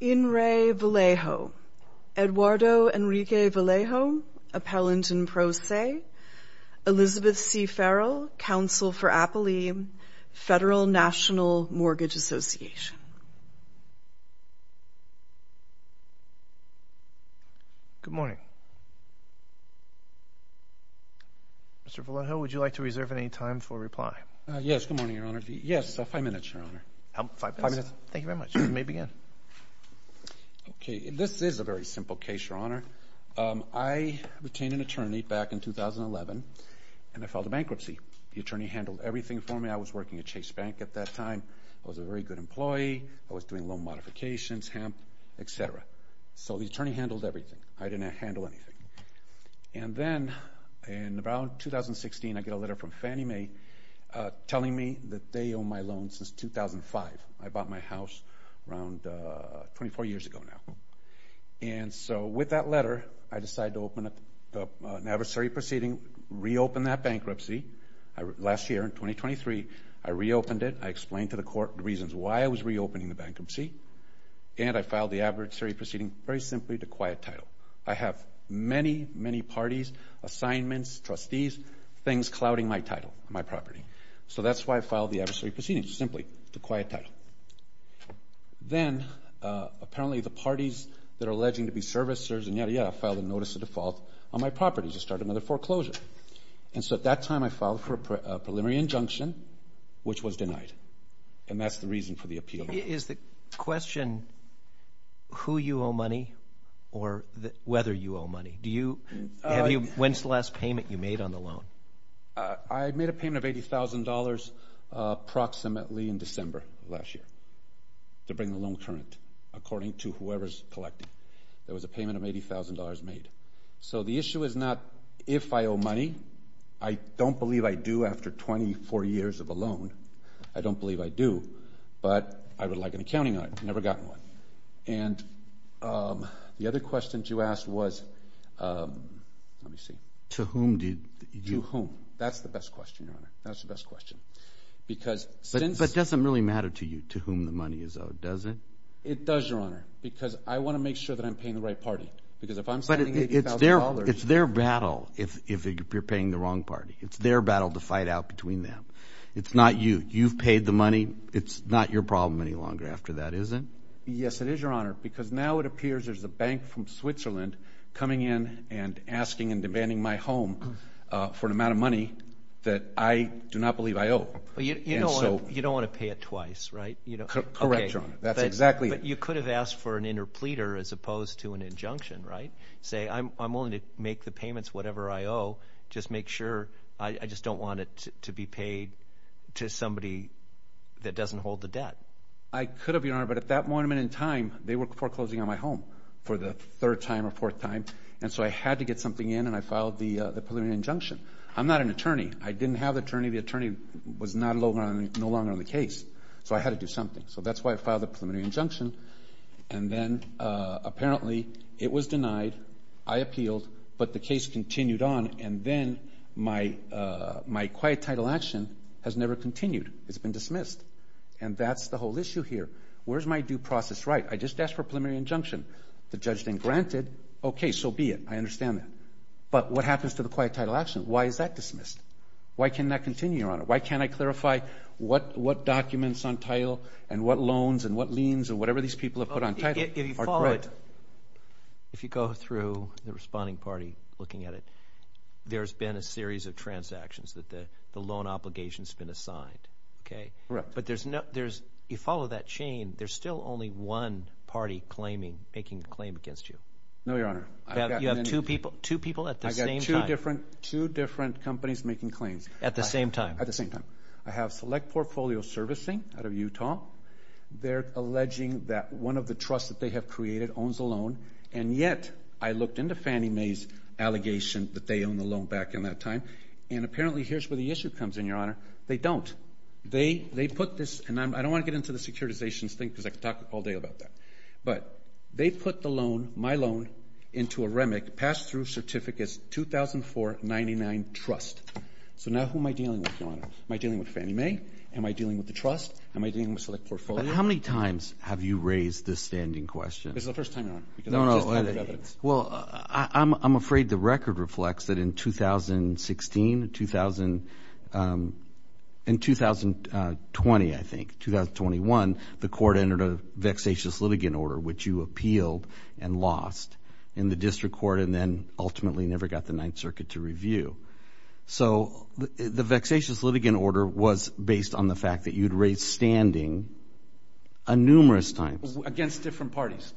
In re. Vallejo. Eduardo Enrique Vallejo, Appellant in Pro Se. Elizabeth C. Farrell, Counsel for Apolline, Federal National Mortgage Association. Good morning. Mr. Vallejo, would you like to reserve any time for reply? Yes, good morning, maybe yes. Okay, this is a very simple case, Your Honor. I retained an attorney back in 2011, and I filed a bankruptcy. The attorney handled everything for me. I was working at Chase Bank at that time. I was a very good employee. I was doing loan modifications, hemp, etc. So the attorney handled everything. I didn't handle anything. And then, in about 2016, I get a letter from Fannie Mae telling me that they owe my loan since 2005. I bought my house around 24 years ago now. And so, with that letter, I decided to open up an adversary proceeding, reopen that bankruptcy. Last year, in 2023, I reopened it. I explained to the court the reasons why I was reopening the bankruptcy, and I filed the adversary proceeding very simply to quiet title. I have many, many parties, assignments, trustees, things clouding my title, my property. So that's why I filed the adversary proceeding, simply to quiet title. Then, apparently, the parties that are alleging to be servicers, and yada, yada, filed a notice of default on my property to start another foreclosure. And so, at that time, I filed for a preliminary injunction, which was denied. And that's the reason for the appeal. Is the question who you owe money, or whether you owe money? When's the last payment you made on the loan? I made a payment of $80,000 approximately in December of last year, to bring the loan current, according to whoever's collecting. It was a payment of $80,000 made. So the issue is not if I owe money. I don't believe I do after 24 years of a loan. I don't believe I do. But I would like an accounting on it. I've never gotten one. And the other questions you asked was, let me see. To whom did you? To whom? That's the best question, Your Honor. That's the best question. But it doesn't really matter to you, to whom the money is owed, does it? It does, Your Honor. Because I want to make sure that I'm paying the right party. Because if I'm spending $80,000. But it's their battle, if you're paying the wrong party. It's their battle to fight out between them. It's not you. You've made the money. It's not your problem any longer after that, is it? Yes, it is, Your Honor. Because now it appears there's a bank from Switzerland coming in and asking and demanding my home for an amount of money that I do not believe I owe. You don't want to pay it twice, right? Correct, Your Honor. That's exactly it. But you could have asked for an interpleader as opposed to an injunction, right? Say, I'm willing to make the payments whatever I owe. Just make sure. I just don't want it to be paid to somebody that doesn't hold the debt. I could have, Your Honor. But at that moment in time, they were foreclosing on my home for the third time or fourth time. And so I had to get something in and I filed the preliminary injunction. I'm not an attorney. I didn't have an attorney. The attorney was no longer on the case. So I had to do something. So that's why I filed the preliminary injunction. And then apparently it was denied. I appealed. But the case continued on. And then my quiet title action has never continued. It's been dismissed. And that's the whole issue here. Where's my due process right? I just asked for a preliminary injunction. The judge didn't grant it. Okay, so be it. I understand that. But what happens to the quiet title action? Why is that dismissed? Why can't that continue, Your Honor? Why can't I clarify what documents on title and what loans and what liens and whatever these people have put on title? If you follow it, if you go through the responding party looking at it, there's been a series of transactions that the loan obligation has been assigned. Okay, but there's no, there's, you follow that chain, there's still only one party claiming, making a claim against you. No, Your Honor. You have two people, two people at the same time. I've got two different companies making claims. At the same time? At the same time. I have Select Portfolio Servicing out of Utah. They're alleging that one of the trusts that they have created owns a loan, and yet I looked into Fannie Mae's allegation that they own the loan back in that time. And apparently here's where the issue comes in, Your Honor. They don't. They, they put this, and I don't want to get into the securitizations thing because I could talk all day about that. But they put the loan, my loan, into a REMIC, pass-through certificate, 2004-99 trust. So now who am I dealing with, Your Honor? Am I dealing with Fannie Mae? Am I dealing with the trust? Am I dealing with Select Portfolio? How many times have you raised this standing question? This is the first time, Your Honor. No, no. Well, I'm afraid the record reflects that in 2016, 2000, in 2020, I think, 2021, the court entered a vexatious litigant order, which you appealed and lost in the district court, and then ultimately never got the Ninth Circuit to review. So the vexatious litigant order was based on the fact that you'd raised standing numerous times. Against different parties.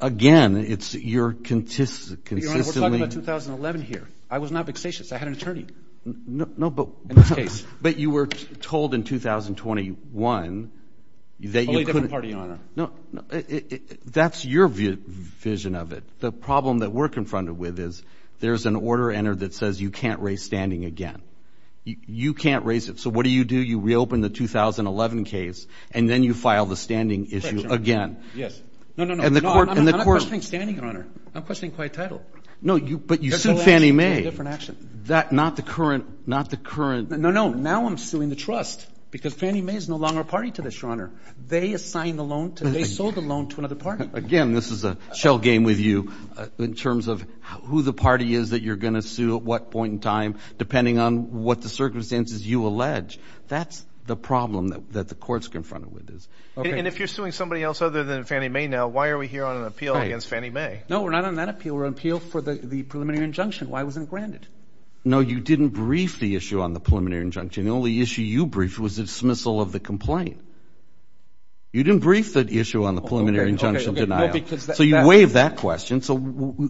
Again, it's your consistent, consistently... Your Honor, we're talking about 2011 here. I was not vexatious. I had an attorney. No, no, but... In this case. But you were told in 2021 that you could... Only a different party, Your Honor. No, that's your vision of it. The problem that we're confronted with is there's an order entered that says you can't raise standing again. You can't raise it. So what do you do? You reopen the 2011 case, and then you file the standing issue again. Yes. No, no, no. And the court... No, I'm not questioning standing, Your Honor. I'm questioning quiet title. No, you... But you sued Fannie Mae. That's a different action. That... Not the current... Not the current... No, no. Now I'm suing the trust, because Fannie Mae is no longer a party to this, Your Honor. They assigned the loan to... They sold the loan to another party. Again, this is a shell game with you in terms of who the party is that you're going to sue at what point in time, depending on what the circumstances you allege, that's the problem that the court's confronted with is. Okay. And if you're suing somebody else other than Fannie Mae now, why are we here on an appeal against Fannie Mae? No, we're not on that appeal. We're on appeal for the preliminary injunction. Why wasn't it granted? No, you didn't brief the issue on the preliminary injunction. The only issue you briefed was the dismissal of the complaint. You didn't brief the issue on the preliminary injunction denial. Okay, okay. No, because that... So you waived that question, so...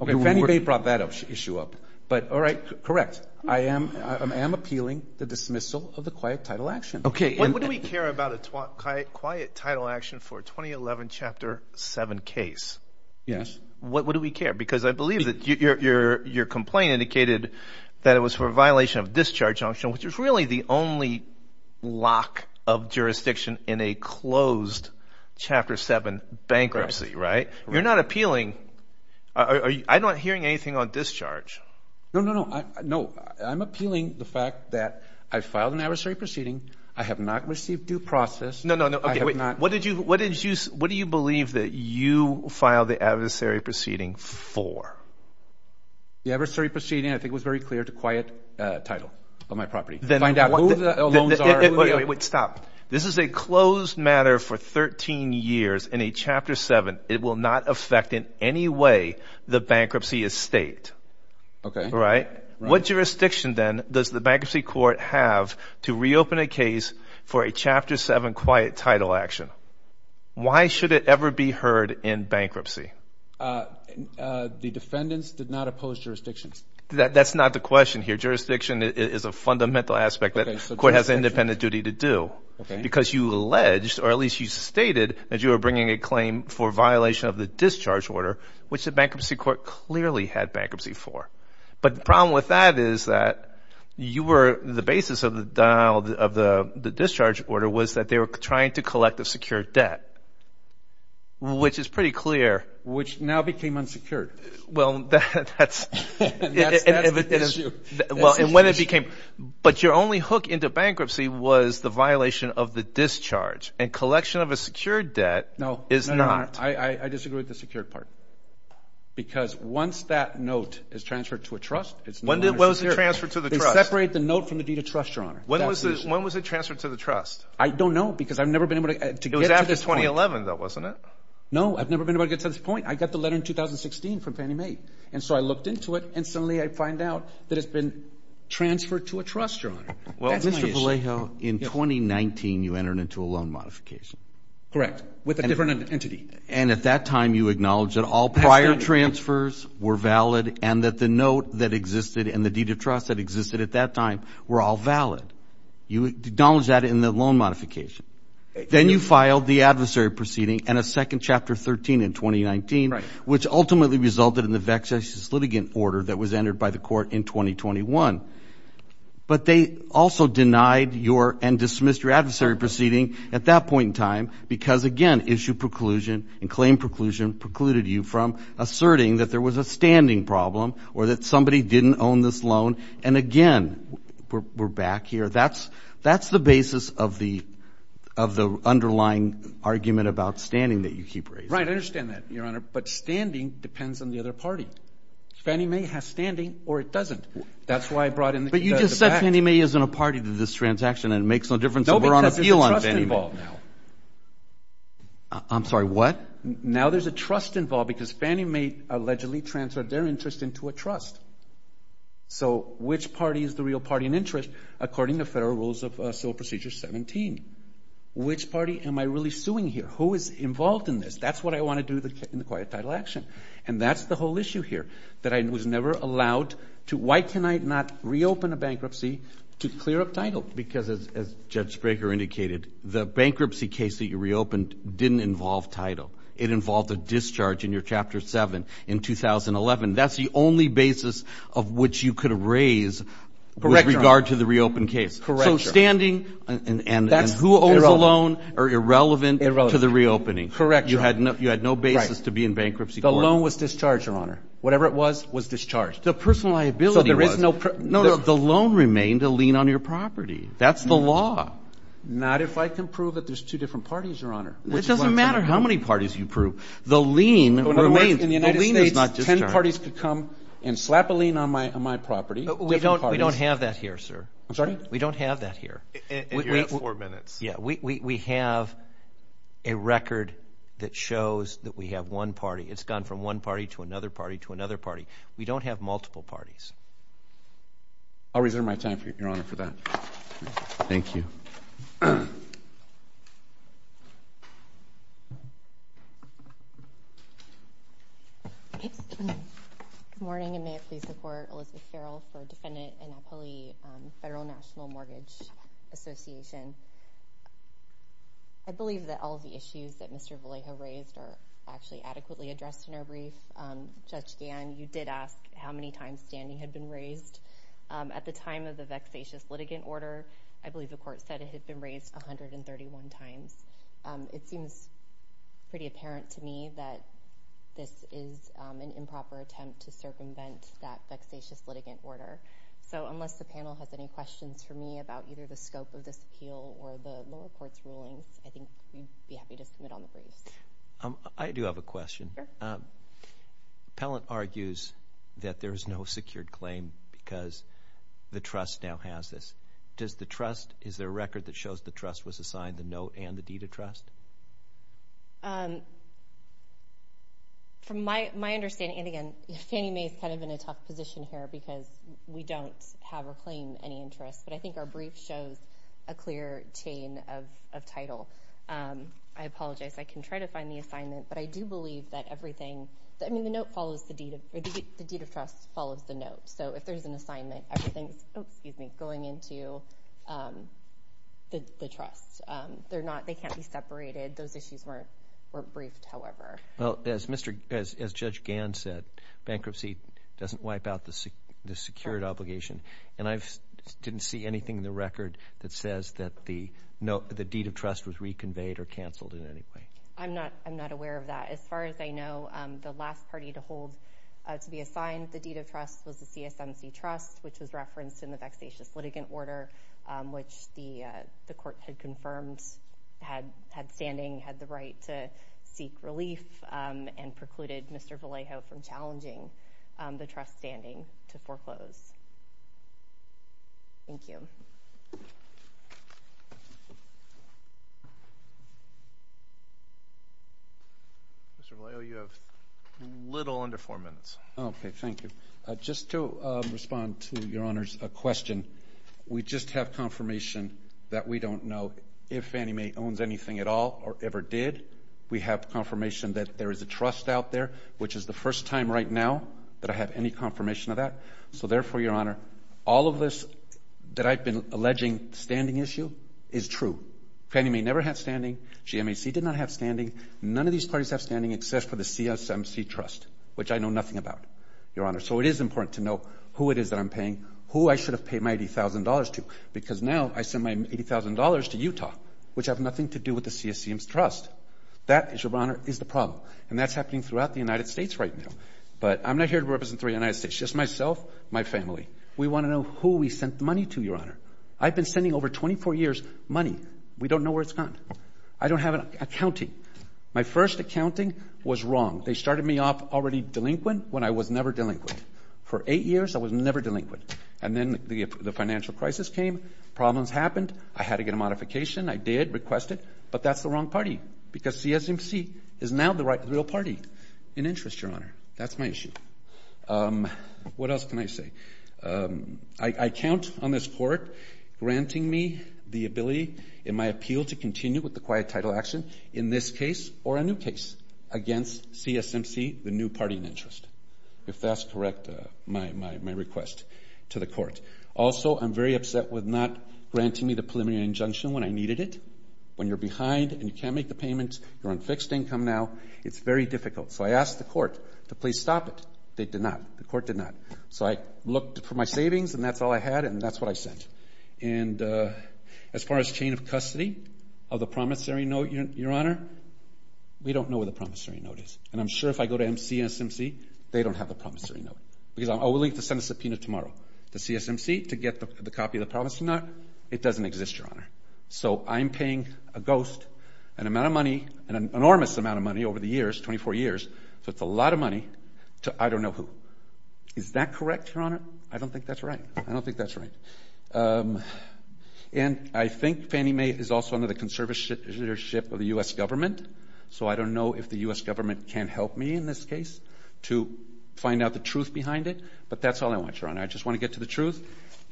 Okay, Fannie Mae brought that issue up. But, all right, correct. I am appealing the dismissal of the quiet title action. Okay. And what do we care about a quiet title action for a 2011 Chapter 7 case? Yes. What do we care? Because I believe that your complaint indicated that it was for a violation of discharge injunction, which is really the only lock of jurisdiction in a closed Chapter 7 bankruptcy, right? You're not appealing... I'm not hearing anything on discharge. No, no, no. No, I'm appealing the fact that I filed an adversary proceeding. I have not received due process. No, no, no. Okay, wait. What did you... What do you believe that you filed the adversary for 13 years in a Chapter 7? It will not affect in any way the bankruptcy estate. Okay. Right? What jurisdiction then does the bankruptcy court have to reopen a case for a Chapter 7 quiet title action? Why should it ever be heard in bankruptcy? The defendants did not oppose jurisdictions. That's not the question here. Jurisdiction is a fundamental aspect that the court has an independent duty to do. Okay. Because you alleged, or at least you stated, that you were bringing a claim for violation of the discharge order, which the bankruptcy court clearly had bankruptcy for. But the problem with that is that you were... The basis of the discharge order was that they were trying to collect a secured debt, which is pretty clear. Which now became unsecured. Well, that's... That's the issue. Well, and when it became... But your only hook into bankruptcy was the violation of the discharge. And collection of a secured debt is not... No, no, no. I disagree with the secured part. Because once that note is transferred to a trust, it's no longer secured. When was it transferred to the trust? They separate the note from the deed of trust, Your Honor. That's the issue. When was it transferred to the trust? I don't know, because I've never been able to get to this point. It was after 2011, though, wasn't it? No, I've never been able to get to this point. I got the letter in 2016 from Fannie Mae. And so I looked into it, and suddenly I find out that it's been transferred to a trust, Your Honor. That's my issue. Well, Mr. Vallejo, in 2019, you entered into a loan modification. Correct. With a different entity. And at that time, you acknowledged that all prior transfers were valid and that the note that existed and the deed of trust that existed at that time were all valid. You acknowledged that in the loan modification. Then you filed the adversary proceeding and a second Chapter 13 in 2019, which ultimately resulted in the vexatious litigant order that was entered by the court in 2021. But they also denied your and dismissed your adversary proceeding at that point in time because, again, issue preclusion and claim preclusion precluded you from asserting that there was a standing problem or that somebody didn't own this loan. And again, we're back here. That's that's the basis of the of the underlying argument about standing that you keep right. I understand that, Your Honor. But standing depends on the other party. Fannie Mae has standing or it doesn't. That's why I brought in. But you just said Fannie Mae isn't a party to this transaction and it makes no difference. We're on appeal. I'm sorry, what? Now there's a trust involved because Fannie Mae allegedly transferred their interest into a trust. So which party is the real party in interest? According to Federal Rules of Civil Procedure 17, which party am I really suing here? Who is involved in this? That's what I want to do in the quiet title action. And that's the whole issue here, that I was never allowed to. Why can I not reopen a bankruptcy to clear up title? Because as Judge Spraker indicated, the bankruptcy case that you reopened didn't involve title. It involved a loan in 2011. That's the only basis of which you could raise with regard to the reopened case. So standing and who owns the loan are irrelevant to the reopening. Correct. You had no basis to be in bankruptcy. The loan was discharged, Your Honor. Whatever it was, was discharged. The personal liability was. The loan remained a lien on your property. That's the law. Not if I can prove that there's two different parties, Your Honor. It doesn't matter how many parties you prove. The lien remains. In other words, in the United States, ten parties could come and slap a lien on my property. We don't have that here, sir. I'm sorry? We don't have that here. And you have four minutes. Yeah. We have a record that shows that we have one party. It's gone from one party to another party to another party. We don't have multiple parties. I'll reserve my time, Your Honor, for that. Thank you. Good morning and may it please the Court. Elizabeth Farrell for Defendant and Appellee Federal National Mortgage Association. I believe that all of the issues that Mr. Vallejo raised are actually adequately addressed in our brief. Judge Gann, you did ask how many times standing had been raised. At the time of the vexatious litigant order, I believe the Court said it had been raised 131 times. It seems pretty apparent to me that this is an improper attempt to circumvent that vexatious litigant order. So unless the panel has any questions for me about either the scope of this appeal or the lower court's rulings, I think we'd be happy to submit on the brief. I do have a question. Appellant argues that there is no secured claim because the trust now has this. Is there a record that shows the trust was assigned the note and the deed of trust? From my understanding, and again, Fannie Mae is kind of in a tough position here because we don't have a claim of any interest, but I think our brief shows a clear chain of title. I apologize. I can try to find the assignment, but I do believe that everything, I mean the note follows the deed of, the deed of trust follows the note. So if there's an assignment, everything's going into the trust. They can't be separated. Those issues weren't briefed, however. Well, as Judge Gann said, bankruptcy doesn't wipe out the secured obligation, and I didn't see anything in the record that says that the deed of trust was reconveyed or canceled in any way. I'm not aware of that. As far as I know, the last party to hold, to be assigned the deed of trust was the CSMC Trust, which was referenced in the vexatious litigant order, which the court had confirmed had standing, had the right to seek relief, and precluded Mr. Vallejo from challenging the trust's standing to foreclose. Thank you. Mr. Vallejo, you have a little under four minutes. Okay, thank you. Just to respond to Your Honor's question, we just have confirmation that we don't know if Fannie Mae owns anything at all or ever did. We have confirmation that there is a trust out there, which is the first time right now that I have any confirmation of that. So therefore, Your Honor, all of this that I've been alleging standing issue is true. Fannie Mae never had standing. GMAC did not have standing. None of these parties have standing except for the CSMC Trust, which I know nothing about, Your Honor. So it is important to know who it is that I'm paying, who I should have paid my $80,000 to, because now I send my $80,000 to Utah, which have nothing to do with the CSMC Trust. That, Your Honor, is the problem, and that's happening throughout the United States right now. But I'm not here to represent the United States, just myself, my family. We want to know who we sent money to, Your Honor. I've been sending over 24 years money. We don't know where it's gone. I don't have an accounting. My first accounting was wrong. They started me off already delinquent when I was never delinquent. For eight years, I was never delinquent. And then the financial crisis came. Problems happened. I had to get a modification. I did request it. But that's the wrong party, because CSMC is now the real party in interest, Your Honor. That's my issue. What else can I say? I count on this court granting me the ability, in my appeal to continue with the quiet title action, in this case or a new case, against CSMC, the new party in interest, if that's correct, my request to the court. Also, I'm very upset with not granting me the preliminary injunction when I needed it. When you're behind and you can't make the payment, you're on fixed income now, it's very difficult. So I asked the court to please stop it. They did not. The court did not. So I looked for my savings, and that's all I had, and that's what I sent. And as far as chain of custody of the promissory note, Your Honor, we don't know where the promissory note is. And I'm sure if I go to CSMC, they don't have the promissory note, because I'm only to send a subpoena tomorrow to CSMC to get the copy of the promissory note. It doesn't exist, Your Honor. So I'm paying a ghost an amount of money, an enormous amount of money over the years, 24 years. So it's a lot of money to I don't know who. Is that correct, Your Honor? I don't think that's right. I don't think that's right. And I think Fannie Mae is also under the conservatorship of the U.S. government, so I don't know if the U.S. government can help me in this case to find out the truth behind it. But that's all I want, Your Honor. I just want to get to the truth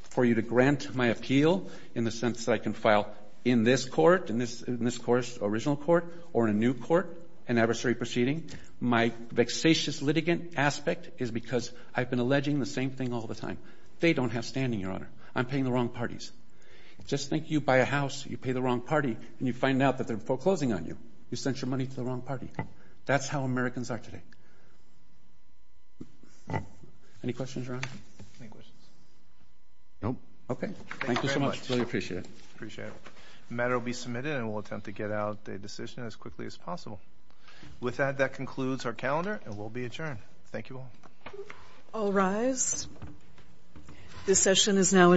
for you to grant my appeal in the sense that I can file in this court, in this court's original court, or in a new court, an adversary proceeding. My vexatious litigant aspect is because I've been alleging the same thing all the time. They don't have standing, Your Honor. I'm paying the wrong parties. Just think you buy a house, you pay the wrong party, and you find out that they're foreclosing on you. You sent your money to the wrong party. That's how Americans are today. Any questions, Your Honor? No questions. No? Okay. Thank you so much. Really appreciate it. Appreciate it. The matter will be submitted, and we'll attempt to get out a decision as quickly as possible. With that, that concludes our calendar, and we'll be adjourned. Thank you all. All rise. This session is now adjourned.